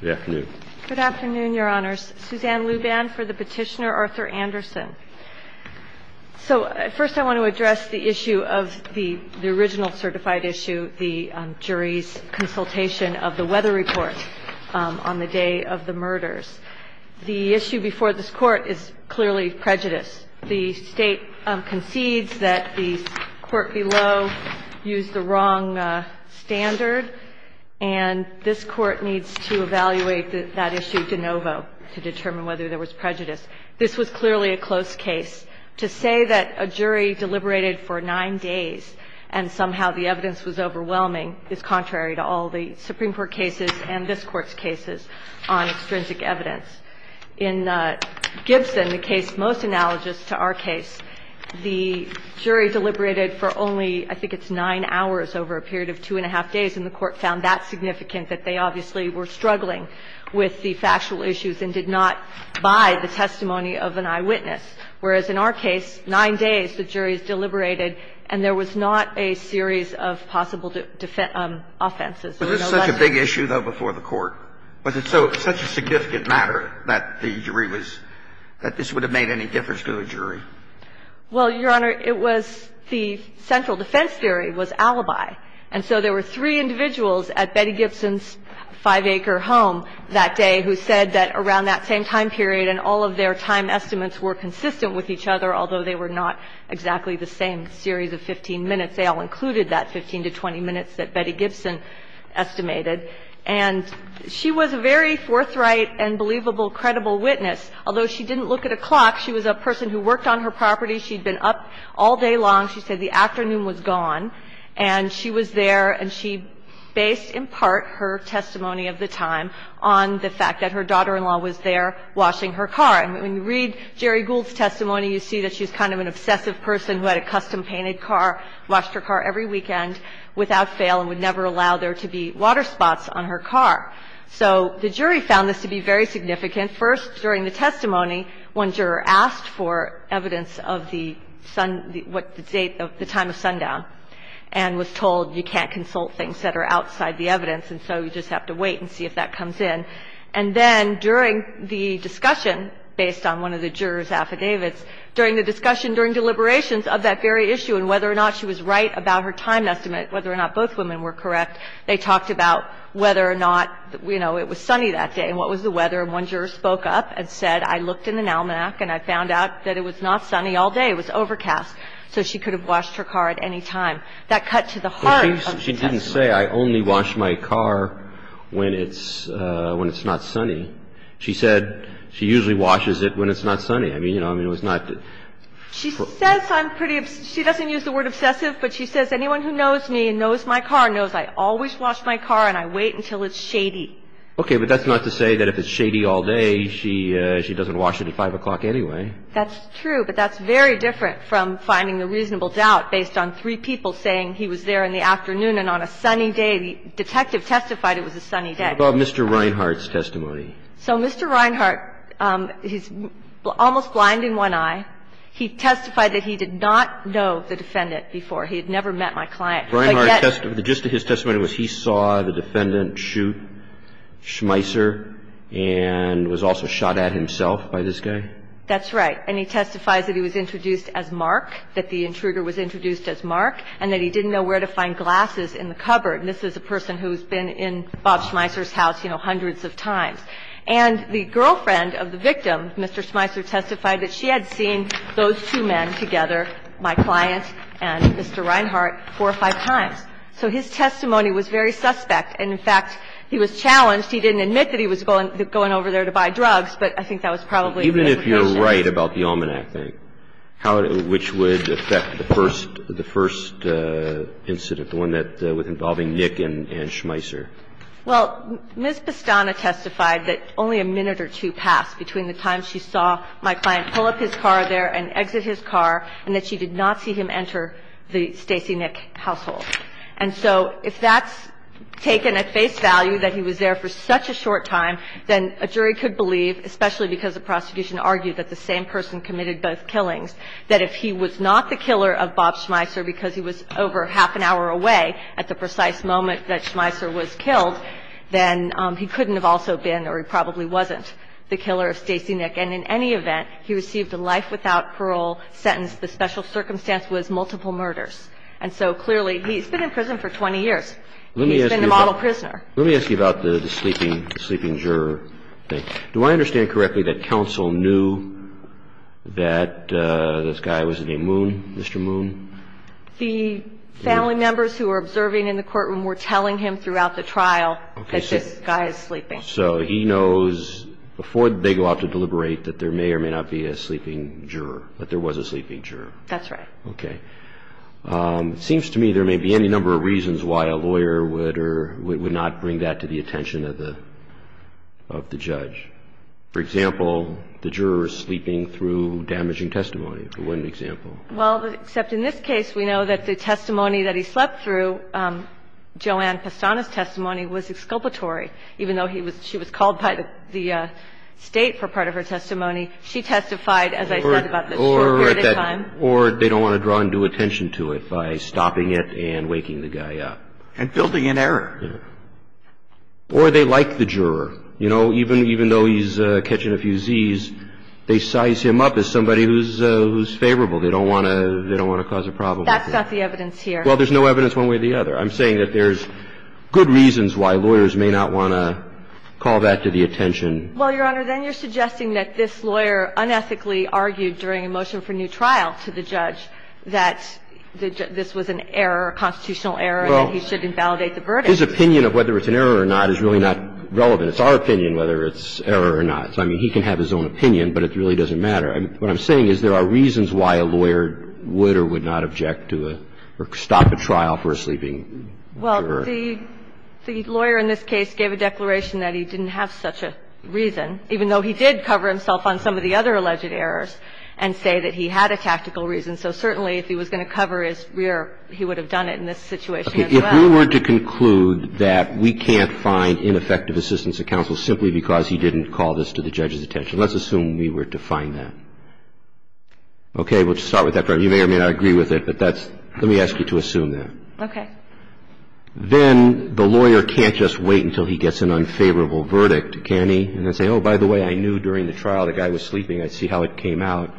Good afternoon, your honors. Suzanne Luban for the petitioner Arthur Anderson. So first I want to address the issue of the original certified issue, the jury's consultation of the weather report on the day of the murders. The issue before this court is clearly prejudice. The state concedes that the court below used the wrong standard and this court needs to evaluate that issue de novo to determine whether there was prejudice. This was clearly a close case. To say that a jury deliberated for nine days and somehow the evidence was overwhelming is contrary to all the Supreme Court cases and this court's cases on extrinsic evidence. In Gibson, the case most analogous to our case, the jury deliberated for only, I think it's nine hours over a period of two and a half days and the court found that significant that they obviously were struggling with the factual issues and did not buy the testimony of an eyewitness. Whereas in our case, nine days, the jury deliberated and there was not a series of possible offenses. Was this such a big issue, though, before the court? Was it such a significant matter that the jury was – that this would have made any difference to a jury? Well, Your Honor, it was – the central defense theory was alibi. And so there were three individuals at Betty Gibson's five-acre home that day who said that around that same time period and all of their time estimates were consistent with each other, although they were not exactly the same series of 15 minutes. They all included that 15 to 20 minutes that Betty Gibson estimated. And she was a very forthright and believable, credible witness. Although she didn't look at a clock, she was a person who worked on her property. She'd been up all day long. She said the afternoon was gone. And she was there and she based in part her testimony of the time on the fact that her daughter-in-law was there washing her car. And when you read Jerry Gould's testimony, you see that she's kind of an obsessive person who had a custom-painted car, washed her car every weekend without fail and would never allow there to be water spots on her car. So the jury found this to be very significant. First, during the testimony, one juror asked for evidence of the time of sundown and was told you can't consult things that are outside the evidence, and so you just have to wait and see if that comes in. And then during the discussion, based on one of the jurors' affidavits, during the discussion, during deliberations of that very issue and whether or not she was right about her time estimate, whether or not both women were correct, they talked about whether or not, you know, it was sunny that day and what was the weather. And one juror spoke up and said, I looked in the NALMAC and I found out that it was not sunny all day. It was overcast. So she could have washed her car at any time. That cut to the heart of the testimony. But she didn't say, I only wash my car when it's not sunny. She said she usually washes it when it's not sunny. I mean, you know, I mean, it was not. She says I'm pretty – she doesn't use the word obsessive, but she says anyone who knows me and knows my car knows I always wash my car and I wait until it's shady. Okay. But that's not to say that if it's shady all day, she doesn't wash it at 5 o'clock anyway. That's true. But that's very different from finding the reasonable doubt based on three people saying he was there in the afternoon and on a sunny day. The detective testified it was a sunny day. What about Mr. Reinhart's testimony? So Mr. Reinhart, he's almost blind in one eye. He testified that he did not know the defendant before. He had never met my client. Reinhart's testimony, just his testimony was he saw the defendant shoot Schmeisser and was also shot at himself by this guy? That's right. And he testifies that he was introduced as Mark, that the intruder was introduced as Mark, and that he didn't know where to find glasses in the cupboard. And this is a person who's been in Bob Schmeisser's house, you know, hundreds of times. And the girlfriend of the victim, Mr. Schmeisser, testified that she had seen those two men together, my client and Mr. Reinhart, four or five times. So his testimony was very suspect. And, in fact, he was challenged. He didn't admit that he was going over there to buy drugs, but I think that was probably a good precaution. Even if you're right about the Almanac thing, which would affect the first incident, the one that was involving Nick and Schmeisser? Well, Ms. Bastana testified that only a minute or two passed between the time she saw my client pull up his car there and exit his car, and that she did not see him enter the Stacey Nick household. And so if that's taken at face value, that he was there for such a short time, then a jury could believe, especially because the prosecution argued that the same person committed both killings, that if he was not the killer of Bob Schmeisser because he was over half an hour away at the precise moment that Schmeisser was killed, then he couldn't have also been, or he probably wasn't, the killer of Stacey Nick. And in any event, he received a life without parole sentence. The special circumstance was multiple murders. And so, clearly, he's been in prison for 20 years. He's been the model prisoner. Let me ask you about the sleeping juror thing. Do I understand correctly that counsel knew that this guy was named Moon, Mr. Moon? The family members who were observing in the courtroom were telling him throughout the trial that this guy is sleeping. So he knows, before they go out to deliberate, that there may or may not be a sleeping juror, that there was a sleeping juror. That's right. Okay. It seems to me there may be any number of reasons why a lawyer would or would not bring that to the attention of the judge. For example, the juror is sleeping through damaging testimony, for one example. Well, except in this case, we know that the testimony that he slept through, Joanne Pastana's testimony, was exculpatory. Even though she was called by the state for part of her testimony, she testified, as I said, about this short period of time. Or they don't want to draw undue attention to it by stopping it and waking the guy up. And building an error. Or they like the juror. You know, even though he's catching a few Zs, they size him up as somebody who's favorable. They don't want to cause a problem. That's not the evidence here. Well, there's no evidence one way or the other. I'm saying that there's good reasons why lawyers may not want to call that to the attention. Well, Your Honor, then you're suggesting that this lawyer unethically argued during a motion for new trial to the judge that this was an error, a constitutional error, and he should invalidate the verdict. Well, his opinion of whether it's an error or not is really not relevant. It's our opinion whether it's error or not. So, I mean, he can have his own opinion, but it really doesn't matter. I mean, what I'm saying is there are reasons why a lawyer would or would not object to a or stop a trial for a sleeping juror. Well, the lawyer in this case gave a declaration that he didn't have such a reason, even though he did cover himself on some of the other alleged errors and say that he had a tactical reason. So certainly if he was going to cover his rear, he would have done it in this situation as well. If we were to conclude that we can't find ineffective assistance of counsel simply because he didn't call this to the judge's attention, let's assume we were to find that. Okay. We'll start with that. You may or may not agree with it, but that's – let me ask you to assume that. Okay. Then the lawyer can't just wait until he gets an unfavorable verdict, can he, and then say, oh, by the way, I knew during the trial the guy was sleeping. I see how it came out.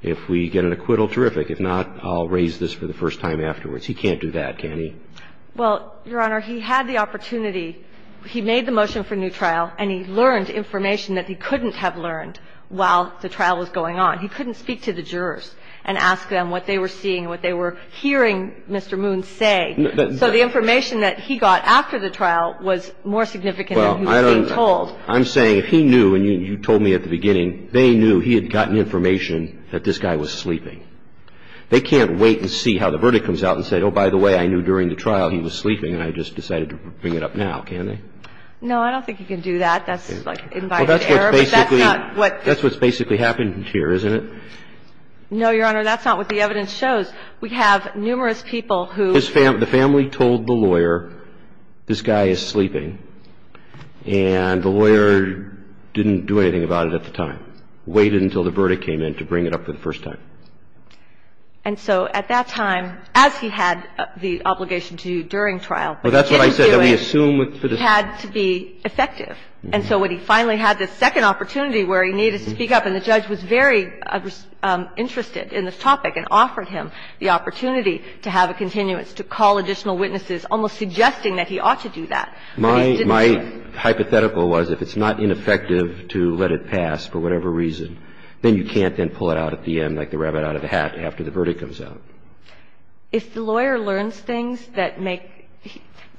If we get an acquittal, terrific. If not, I'll raise this for the first time afterwards. He can't do that, can he? Well, Your Honor, he had the opportunity. He made the motion for a new trial, and he learned information that he couldn't have learned while the trial was going on. He couldn't speak to the jurors and ask them what they were seeing, what they were hearing Mr. Moon say. So the information that he got after the trial was more significant than he was being told. Well, I'm saying if he knew, and you told me at the beginning, they knew he had gotten information that this guy was sleeping. They can't wait and see how the verdict comes out and say, oh, by the way, I knew during the trial he was sleeping, and I just decided to bring it up now, can they? No, I don't think he can do that. That's like invited error. Well, that's what's basically happened here, isn't it? No, Your Honor, that's not what the evidence shows. We have numerous people who ---- The family told the lawyer this guy is sleeping, and the lawyer didn't do anything about it at the time, waited until the verdict came in to bring it up for the first time. And so at that time, as he had the obligation to do during trial, but didn't do it, he had to be effective. And so when he finally had this second opportunity where he needed to speak up, and the judge was very interested in this topic and offered him the opportunity to have a continuance, to call additional witnesses, almost suggesting that he ought to do that, but he didn't do it. My hypothetical was if it's not ineffective to let it pass for whatever reason, then you can't then pull it out at the end like the rabbit out of the hat after the verdict comes out. If the lawyer learns things that make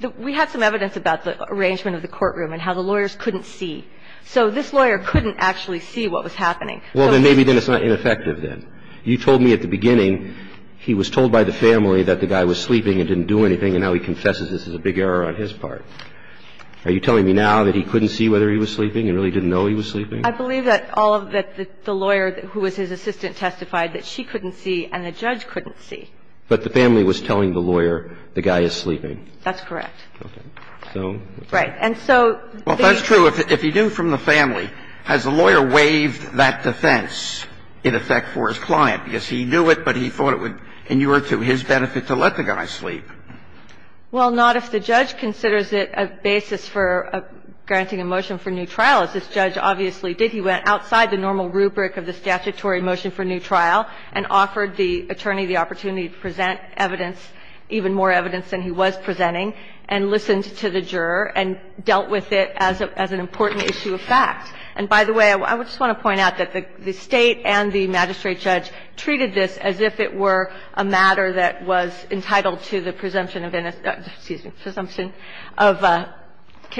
---- we have some evidence about the arrangement of the courtroom and how the lawyers couldn't see. So this lawyer couldn't actually see what was happening. Well, then maybe then it's not ineffective then. You told me at the beginning he was told by the family that the guy was sleeping and didn't do anything, and now he confesses this is a big error on his part. Are you telling me now that he couldn't see whether he was sleeping and really didn't know he was sleeping? I believe that all of the ---- the lawyer who was his assistant testified that she couldn't see and the judge couldn't see. But the family was telling the lawyer the guy is sleeping. That's correct. Okay. Right. And so they ---- Well, if that's true, if he knew from the family, has the lawyer waived that defense in effect for his client? Because he knew it, but he thought it would inure to his benefit to let the guy sleep. Well, not if the judge considers it a basis for granting a motion for new trial, as this judge obviously did. He went outside the normal rubric of the statutory motion for new trial and offered the attorney the opportunity to present evidence, even more evidence than he was presenting, and listened to the juror and dealt with it as an important issue of fact. And by the way, I just want to point out that the State and the magistrate judge treated this as if it were a matter that was entitled to the presumption of ---- excuse me, presumption of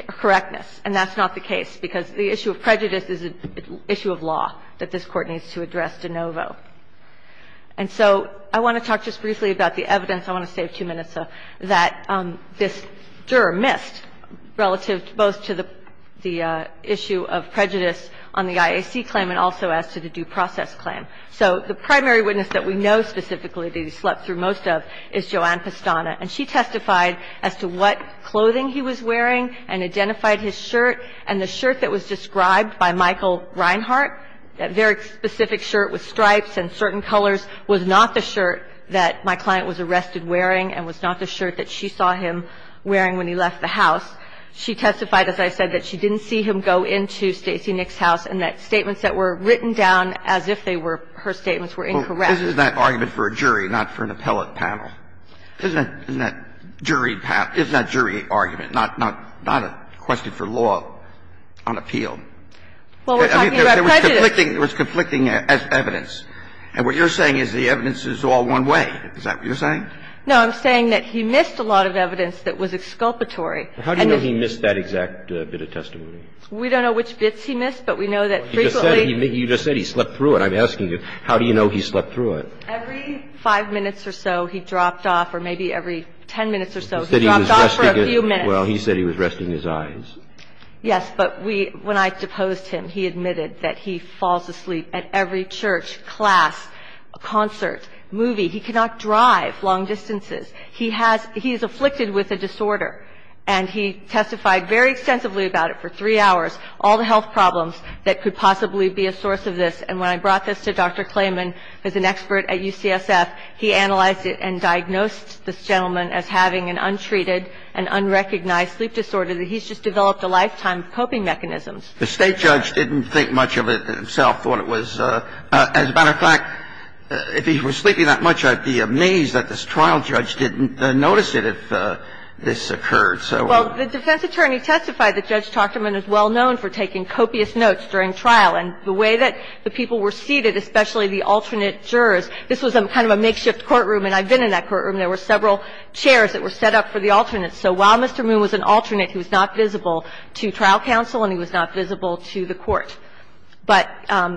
correctness. And that's not the case, because the issue of prejudice is an issue of law that this Court needs to address de novo. And so I want to talk just briefly about the evidence. I want to save two minutes, though, that this juror missed relative both to the issue of prejudice on the IAC claim and also as to the due process claim. So the primary witness that we know specifically that he slept through most of is Joanne Pastana. And she testified as to what clothing he was wearing and identified his shirt. And the shirt that was described by Michael Reinhart, that very specific shirt with the name of Michael Reinhart, was not the shirt that he was wearing and was not the shirt that she saw him wearing when he left the house. She testified, as I said, that she didn't see him go into Stacey Nick's house and that statements that were written down as if they were her statements were incorrect. This is an argument for a jury, not for an appellate panel. Isn't that jury argument, not a question for law on appeal? Well, we're talking about prejudice. I'm saying that there was conflicting evidence. And what you're saying is the evidence is all one way. Is that what you're saying? No. I'm saying that he missed a lot of evidence that was exculpatory. And the ---- How do you know he missed that exact bit of testimony? We don't know which bits he missed, but we know that frequently ---- You just said he slept through it. I'm asking you, how do you know he slept through it? Every five minutes or so he dropped off or maybe every ten minutes or so he dropped off for a few minutes. Well, he said he was resting his eyes. Yes. But we ---- when I deposed him, he admitted that he falls asleep at every church, class, concert, movie. He cannot drive long distances. He has ---- he is afflicted with a disorder. And he testified very extensively about it for three hours, all the health problems that could possibly be a source of this. And when I brought this to Dr. Clayman, who's an expert at UCSF, he analyzed it and diagnosed this gentleman as having an untreated and unrecognized sleep disorder that he's just developed a lifetime of coping mechanisms. The State judge didn't think much of it himself, thought it was ---- as a matter of fact, if he was sleeping that much, I'd be amazed that this trial judge didn't notice it if this occurred. So ---- Well, the defense attorney testified that Judge Tochterman is well known for taking copious notes during trial. And the way that the people were seated, especially the alternate jurors, this was some kind of a makeshift courtroom. And I've been in that courtroom. There were several chairs that were set up for the alternates. So while Mr. Moon was an alternate who was not visible to trial counsel and he was not visible to the court, but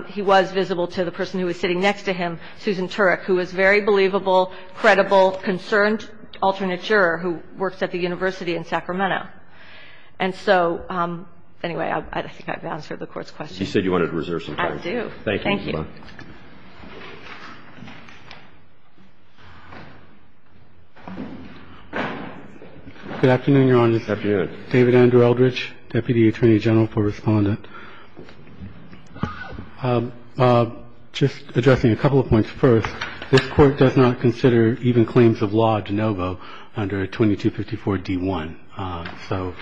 he was visible to the person who was sitting next to him, Susan Turek, who was a very believable, credible, concerned alternate juror who works at the university in Sacramento. And so, anyway, I think I've answered the Court's question. I do. Thank you. Thank you. Thank you. Thank you. Thank you. Thank you. Good afternoon, Your Honor. Good afternoon. David Andrew Eldridge, Deputy Attorney General, for Respondent. Just addressing a couple of points first, this Court does not consider even claims of law de novo under 2254d1. So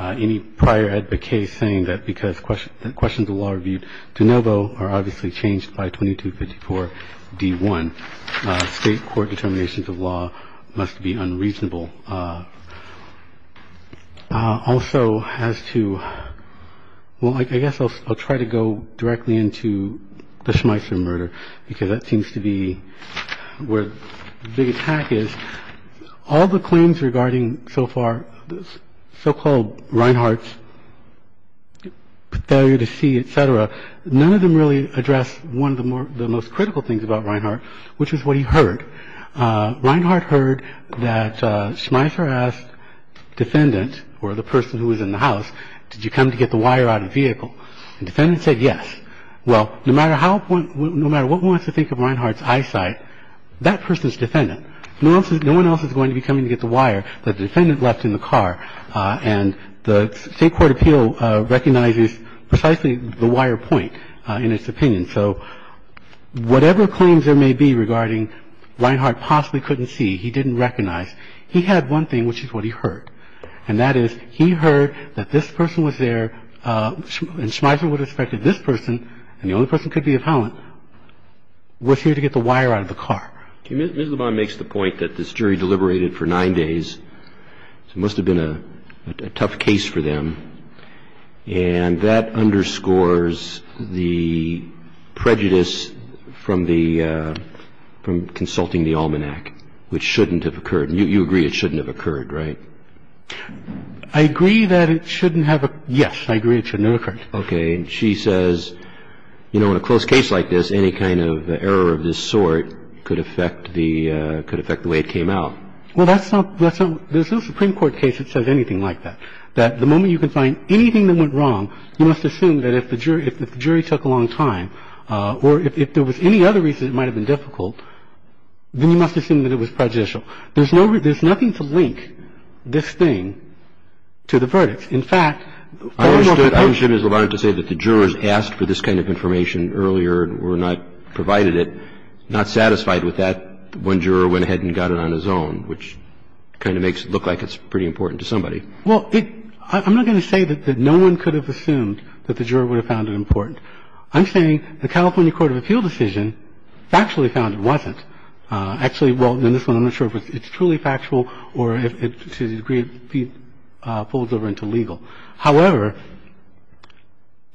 any prior advocate saying that because questions of law are viewed de novo are obviously changed by 2254d1. State court determinations of law must be unreasonable. Also, as to, well, I guess I'll try to go directly into the Schmeisser murder, because that seems to be where the big attack is. All the claims regarding so far, so-called Reinhart's failure to see, et cetera, none of them really address one of the most critical things about Reinhart, which is what he heard. Reinhart heard that Schmeisser asked defendant, or the person who was in the house, did you come to get the wire out of the vehicle? The defendant said yes. Well, no matter what one wants to think of Reinhart's eyesight, that person is defendant. No one else is going to be coming to get the wire that the defendant left in the car. And the State court appeal recognizes precisely the wire point in its opinion. So whatever claims there may be regarding Reinhart possibly couldn't see, he didn't recognize, he had one thing, which is what he heard, and that is he heard that this person was there and Schmeisser would have suspected this person, and the only person who could be a felon, was here to get the wire out of the car. Ms. Lebon makes the point that this jury deliberated for nine days. It must have been a tough case for them. And that underscores the prejudice from the ‑‑ from consulting the almanac, which shouldn't have occurred. You agree it shouldn't have occurred, right? I agree that it shouldn't have occurred. Yes, I agree it shouldn't have occurred. Okay. Ms. Lebon is a lawyer, and she says, you know, in a close case like this, any kind of error of this sort could affect the way it came out. Well, that's not ‑‑ there's no Supreme Court case that says anything like that. That the moment you can find anything that went wrong, you must assume that if the jury took a long time, or if there was any other reason it might have been difficult, then you must assume that it was prejudicial. There's nothing to link this thing to the verdict. In fact ‑‑ I understood Ms. Lebon to say that the jurors asked for this kind of information earlier and were not provided it, not satisfied with that. One juror went ahead and got it on his own, which kind of makes it look like it's pretty important to somebody. Well, I'm not going to say that no one could have assumed that the juror would have found it important. I'm saying the California Court of Appeal decision factually found it wasn't. Actually, well, in this one I'm not sure if it's truly factual or if to a degree it folds over into legal. However,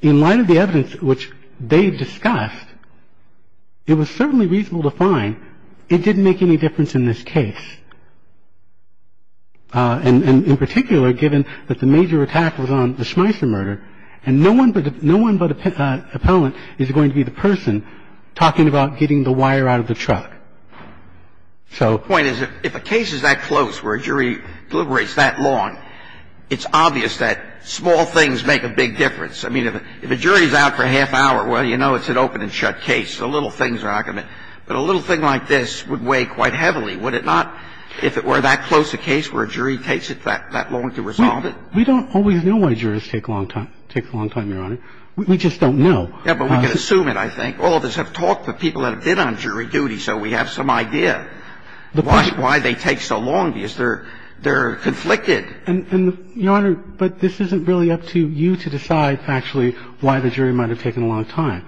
in light of the evidence which they discussed, it was certainly reasonable to find it didn't make any difference in this case. And in particular, given that the major attack was on the Schmeisser murder, and no one but an appellant is going to be the person talking about getting the wire out of the truck, so ‑‑ The point is if a case is that close where a jury deliberates that long, it's obvious that small things make a big difference. I mean, if a jury is out for a half hour, well, you know it's an open and shut case. The little things are not going to ‑‑ but a little thing like this would weigh quite heavily. Would it not if it were that close a case where a jury takes it that long to resolve it? We don't always know why jurors take a long time, Your Honor. We just don't know. Yeah, but we can assume it, I think. All of us have talked to people that have been on jury duty, so we have some idea why they take so long because they're conflicted. And, Your Honor, but this isn't really up to you to decide factually why the jury might have taken a long time.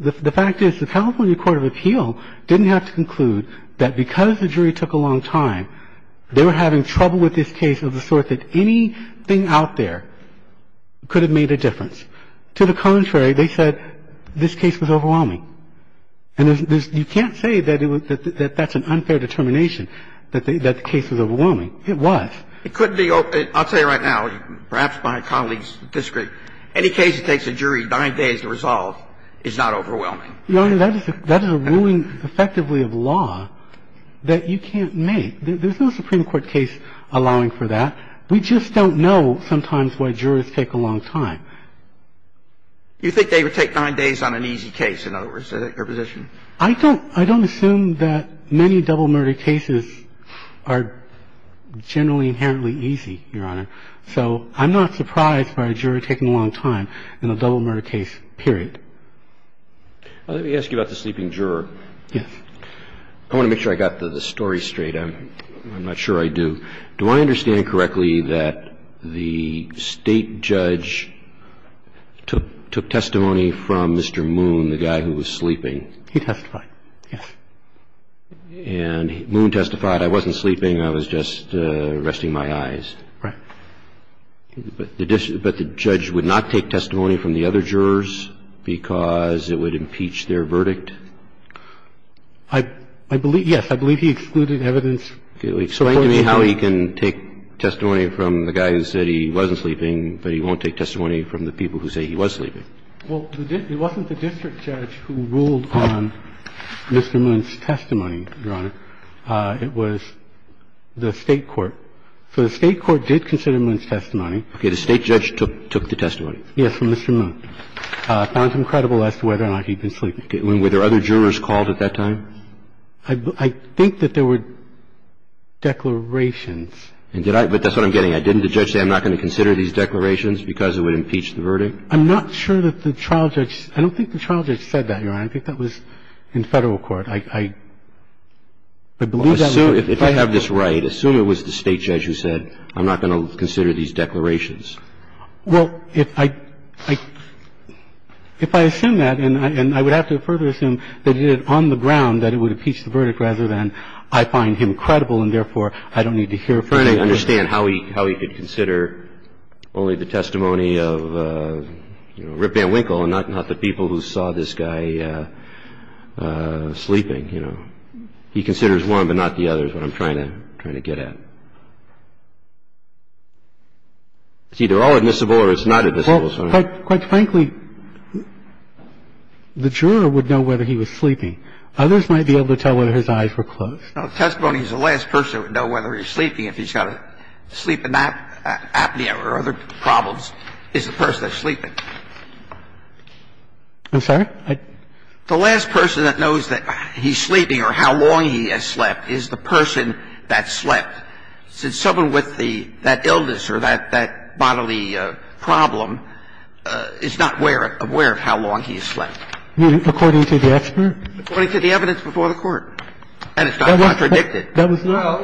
The fact is the California Court of Appeal didn't have to conclude that because the jury took a long time, they were having trouble with this case of the sort that anything out there could have made a difference. To the contrary, they said this case was overwhelming. And you can't say that that's an unfair determination, that the case was overwhelming. It was. It couldn't be ‑‑ I'll tell you right now, perhaps my colleagues disagree, any case that takes a jury nine days to resolve is not overwhelming. Your Honor, that is a ruling effectively of law that you can't make. There's no Supreme Court case allowing for that. We just don't know sometimes why jurors take a long time. You think they would take nine days on an easy case, in other words, is that your position? I don't ‑‑ I don't assume that many double murder cases are generally inherently easy, Your Honor. So I'm not surprised by a juror taking a long time in a double murder case, period. Let me ask you about the sleeping juror. Yes. I want to make sure I got the story straight. I'm not sure I do. Do I understand correctly that the State judge took testimony from Mr. Moon, the guy who was sleeping? He testified, yes. And Moon testified, I wasn't sleeping, I was just resting my eyes. Right. But the judge would not take testimony from the other jurors because it would impeach their verdict? I believe, yes, I believe he excluded evidence. Explain to me how he can take testimony from the guy who said he wasn't sleeping, but he won't take testimony from the people who say he was sleeping. Well, it wasn't the district judge who ruled on Mr. Moon's testimony, Your Honor. It was the State court. So the State court did consider Moon's testimony. Okay. The State judge took the testimony? Yes, from Mr. Moon. Found him credible as to whether or not he'd been sleeping. Were there other jurors called at that time? I think that there were declarations. And did I – but that's what I'm getting at. Didn't the judge say I'm not going to consider these declarations because it would impeach the verdict? I'm not sure that the trial judge – I don't think the trial judge said that, Your Honor. I think that was in Federal court. I believe that was – Assume – if I have this right, assume it was the State judge who said I'm not going to consider these declarations. Well, if I – if I assume that, and I would have to further assume that he did it on the ground, that it would impeach the verdict rather than I find him credible and therefore I don't need to hear from him. Trying to understand how he could consider only the testimony of Rip Van Winkle and not the people who saw this guy sleeping, you know. He considers one but not the others is what I'm trying to get at. It's either all admissible or it's not admissible. Well, quite frankly, the juror would know whether he was sleeping. Others might be able to tell whether his eyes were closed. No, the testimony is the last person that would know whether he was sleeping if he's got a sleeping apnea or other problems is the person that's sleeping. I'm sorry? The last person that knows that he's sleeping or how long he has slept is the person that It's not clear that someone with the – that illness or that bodily problem is not aware of how long he's slept. According to the expert? According to the evidence before the Court. And it's not contradicted. That was not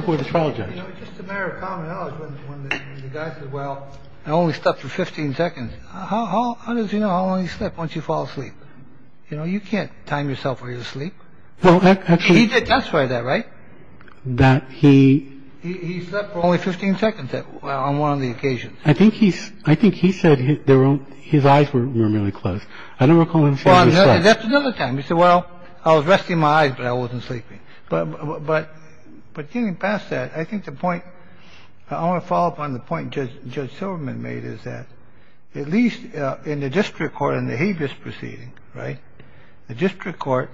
before the trial judge. Just a matter of common knowledge, when the guy said, well, only slept for 15 seconds, how does he know how long he slept once you fall asleep? You know, you can't time yourself while you're asleep. He did testify to that, right? That he – He slept for only 15 seconds on one of the occasions. I think he said his eyes were really closed. I don't recall him saying he slept. That's another time. He said, well, I was resting my eyes, but I wasn't sleeping. But getting past that, I think the point – I think the point that's been made is that at least in the district court, in the habeas proceeding, right, the district court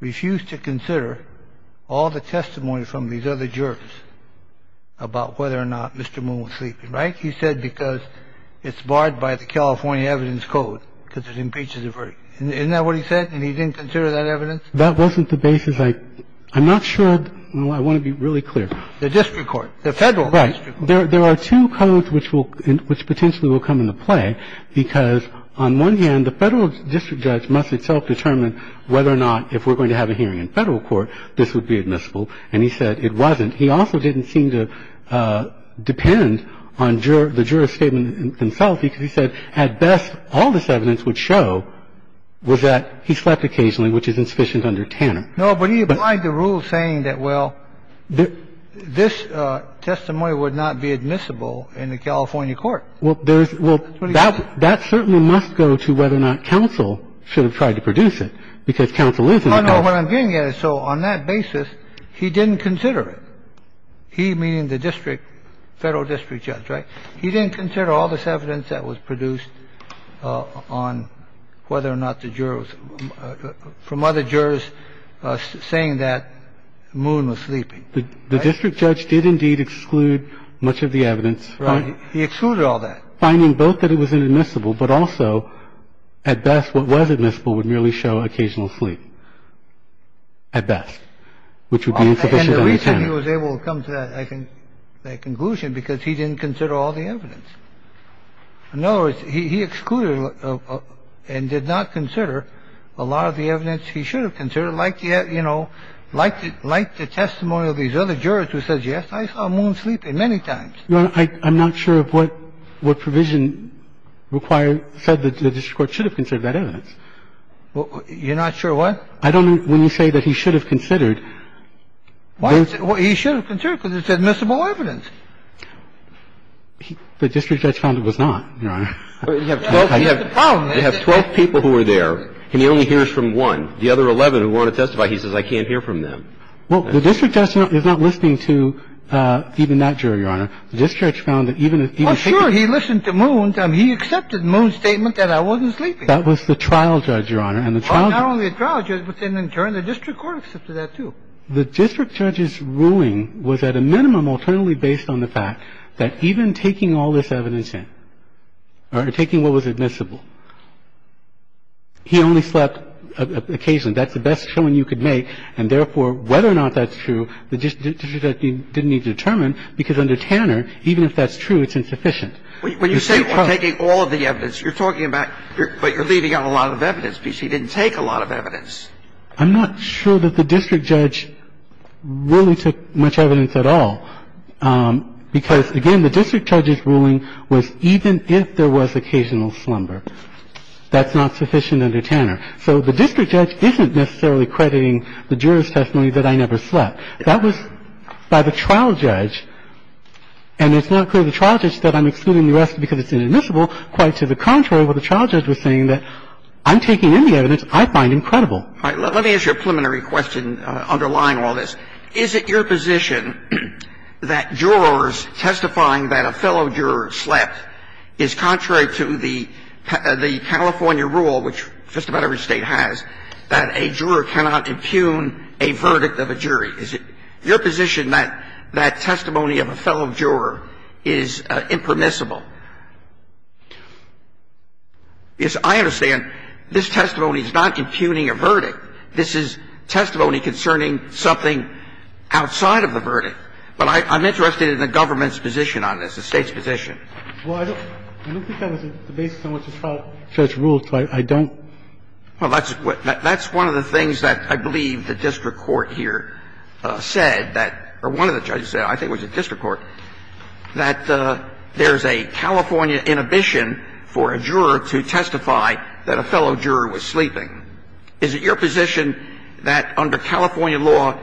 refused to consider all the testimony from these other jurors about whether or not Mr. Moon was sleeping, right? He said because it's barred by the California evidence code because it impeaches a verdict. Isn't that what he said? And he didn't consider that evidence? That wasn't the basis. I'm not sure – I want to be really clear. The district court. The federal district court. Right. There are two codes which will – which potentially will come into play because on one hand, the federal district judge must itself determine whether or not if we're going to have a hearing in federal court, this would be admissible. And he said it wasn't. He also didn't seem to depend on the juror's statement himself because he said at best, all this evidence would show was that he slept occasionally, which is insufficient under Tanner. No, but he applied the rule saying that, well, this testimony would not be admissible in the California court. That's what he said. Well, that certainly must go to whether or not counsel should have tried to produce it because counsel isn't a judge. No, no. What I'm getting at is so on that basis, he didn't consider it. He, meaning the district, federal district judge, right, he didn't consider all this evidence that was produced on whether or not the jurors – from other jurors saying that Moon was sleeping. The district judge did indeed exclude much of the evidence. Right. He excluded all that. Finding both that it was inadmissible, but also at best what was admissible would merely show occasional sleep, at best, which would be insufficient under Tanner. And the reason he was able to come to that, I think, that conclusion, because he didn't consider all the evidence. In other words, he excluded and did not consider a lot of the evidence he should have considered, like the, you know, like the testimony of these other jurors who said, yes, I saw Moon sleeping many times. Your Honor, I'm not sure of what provision required – said the district court should have considered that evidence. You're not sure what? I don't know when you say that he should have considered. He should have considered because it's admissible evidence. The district judge found it was not, Your Honor. You have 12 people who were there, and he only hears from one. The other 11 who want to testify, he says, I can't hear from them. Well, the district judge is not listening to even that juror, Your Honor. The district judge found that even if – Well, sure. He listened to Moon. He accepted Moon's statement that I wasn't sleeping. That was the trial judge, Your Honor, and the trial – Well, not only the trial judge, but then in turn the district court accepted that, too. The district judge's ruling was at a minimum alternately based on the fact that even taking all this evidence in or taking what was admissible, he only slept occasionally. That's the best showing you could make, and therefore, whether or not that's true, the district judge didn't need to determine, because under Tanner, even if that's true, it's insufficient. When you say taking all of the evidence, you're talking about – but you're leaving out a lot of evidence because he didn't take a lot of evidence. I'm not sure that the district judge really took much evidence at all, because, again, the district judge's ruling was even if there was occasional slumber. That's not sufficient under Tanner. So the district judge isn't necessarily crediting the juror's testimony that I never slept. That was by the trial judge, and it's not clear to the trial judge that I'm excluding the rest because it's inadmissible. Quite to the contrary, what the trial judge was saying, that I'm taking in the evidence I find incredible. All right. Let me ask you a preliminary question underlying all this. Is it your position that jurors testifying that a fellow juror slept is contrary to the California rule, which just about every State has, that a juror cannot impugn a verdict of a jury? Is it your position that that testimony of a fellow juror is impermissible? Because I understand this testimony is not impugning a verdict. This is testimony concerning something outside of the verdict. But I'm interested in the government's position on this, the State's position. Well, I don't think that was the basis on which the trial judge ruled, so I don't. Well, that's one of the things that I believe the district court here said that, or one of the judges said, I think it was the district court, that there's a California inhibition for a juror to testify that a fellow juror was sleeping. Is it your position that under California law,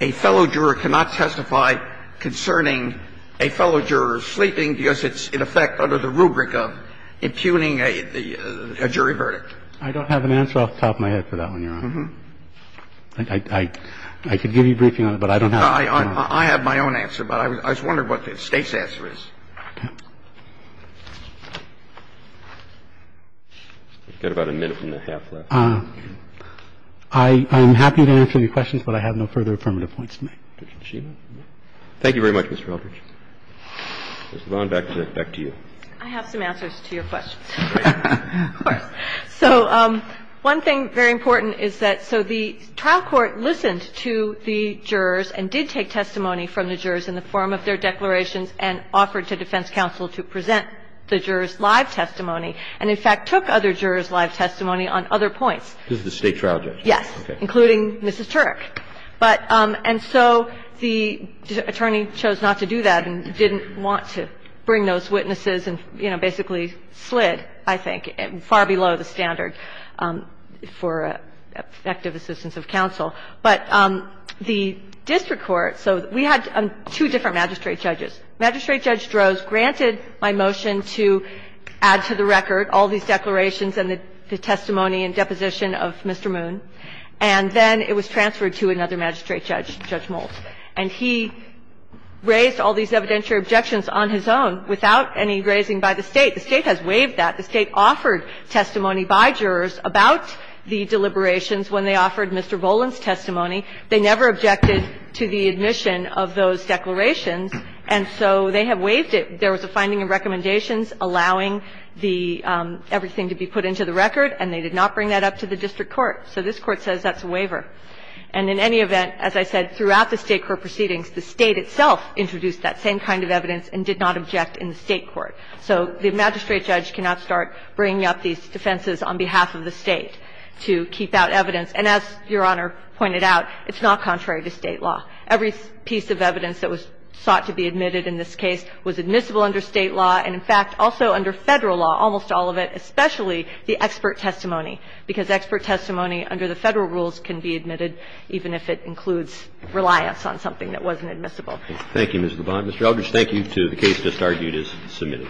a fellow juror cannot testify concerning a fellow juror sleeping because it's, in effect, under the rubric of impugning a jury verdict? I don't have an answer off the top of my head for that one, Your Honor. I can give you a briefing on it, but I don't know. I have my own answer, but I was wondering what the State's answer is. You've got about a minute and a half left. I'm happy to answer your questions, but I have no further affirmative points to make. Thank you very much, Mr. Eldridge. Ms. LeVon, back to you. I have some answers to your questions. Of course. So one thing very important is that so the trial court listened to the jurors and did take testimony from the jurors in the form of their declarations and offered to defense counsel to present the jurors' live testimony and, in fact, took other jurors' live testimony on other points. This is the State trial judge? Yes. Okay. Including Mrs. Turek. And so the attorney chose not to do that and didn't want to bring those witnesses and, you know, basically slid, I think, far below the standard for effective assistance of counsel. But the district court, so we had two different magistrate judges. Magistrate Judge Droz granted my motion to add to the record all these declarations and the testimony and deposition of Mr. Moon, and then it was transferred to another magistrate judge, Judge Mould. And he raised all these evidentiary objections on his own without any raising by the State. The State has waived that. The State offered testimony by jurors about the deliberations when they offered Mr. Boland's testimony. They never objected to the admission of those declarations. And so they have waived it. There was a finding of recommendations allowing the – everything to be put into the record, and they did not bring that up to the district court. So this Court says that's a waiver. And in any event, as I said, throughout the State court proceedings, the State itself introduced that same kind of evidence and did not object in the State court. So the magistrate judge cannot start bringing up these defenses on behalf of the State to keep out evidence. And as Your Honor pointed out, it's not contrary to State law. Every piece of evidence that was sought to be admitted in this case was admissible under State law and, in fact, also under Federal law, almost all of it, especially the expert testimony, because expert testimony under the Federal rules can be admitted even if it includes reliance on something that wasn't admissible. Thank you, Ms. Boland. Mr. Eldridge, thank you to the case just argued as submitted.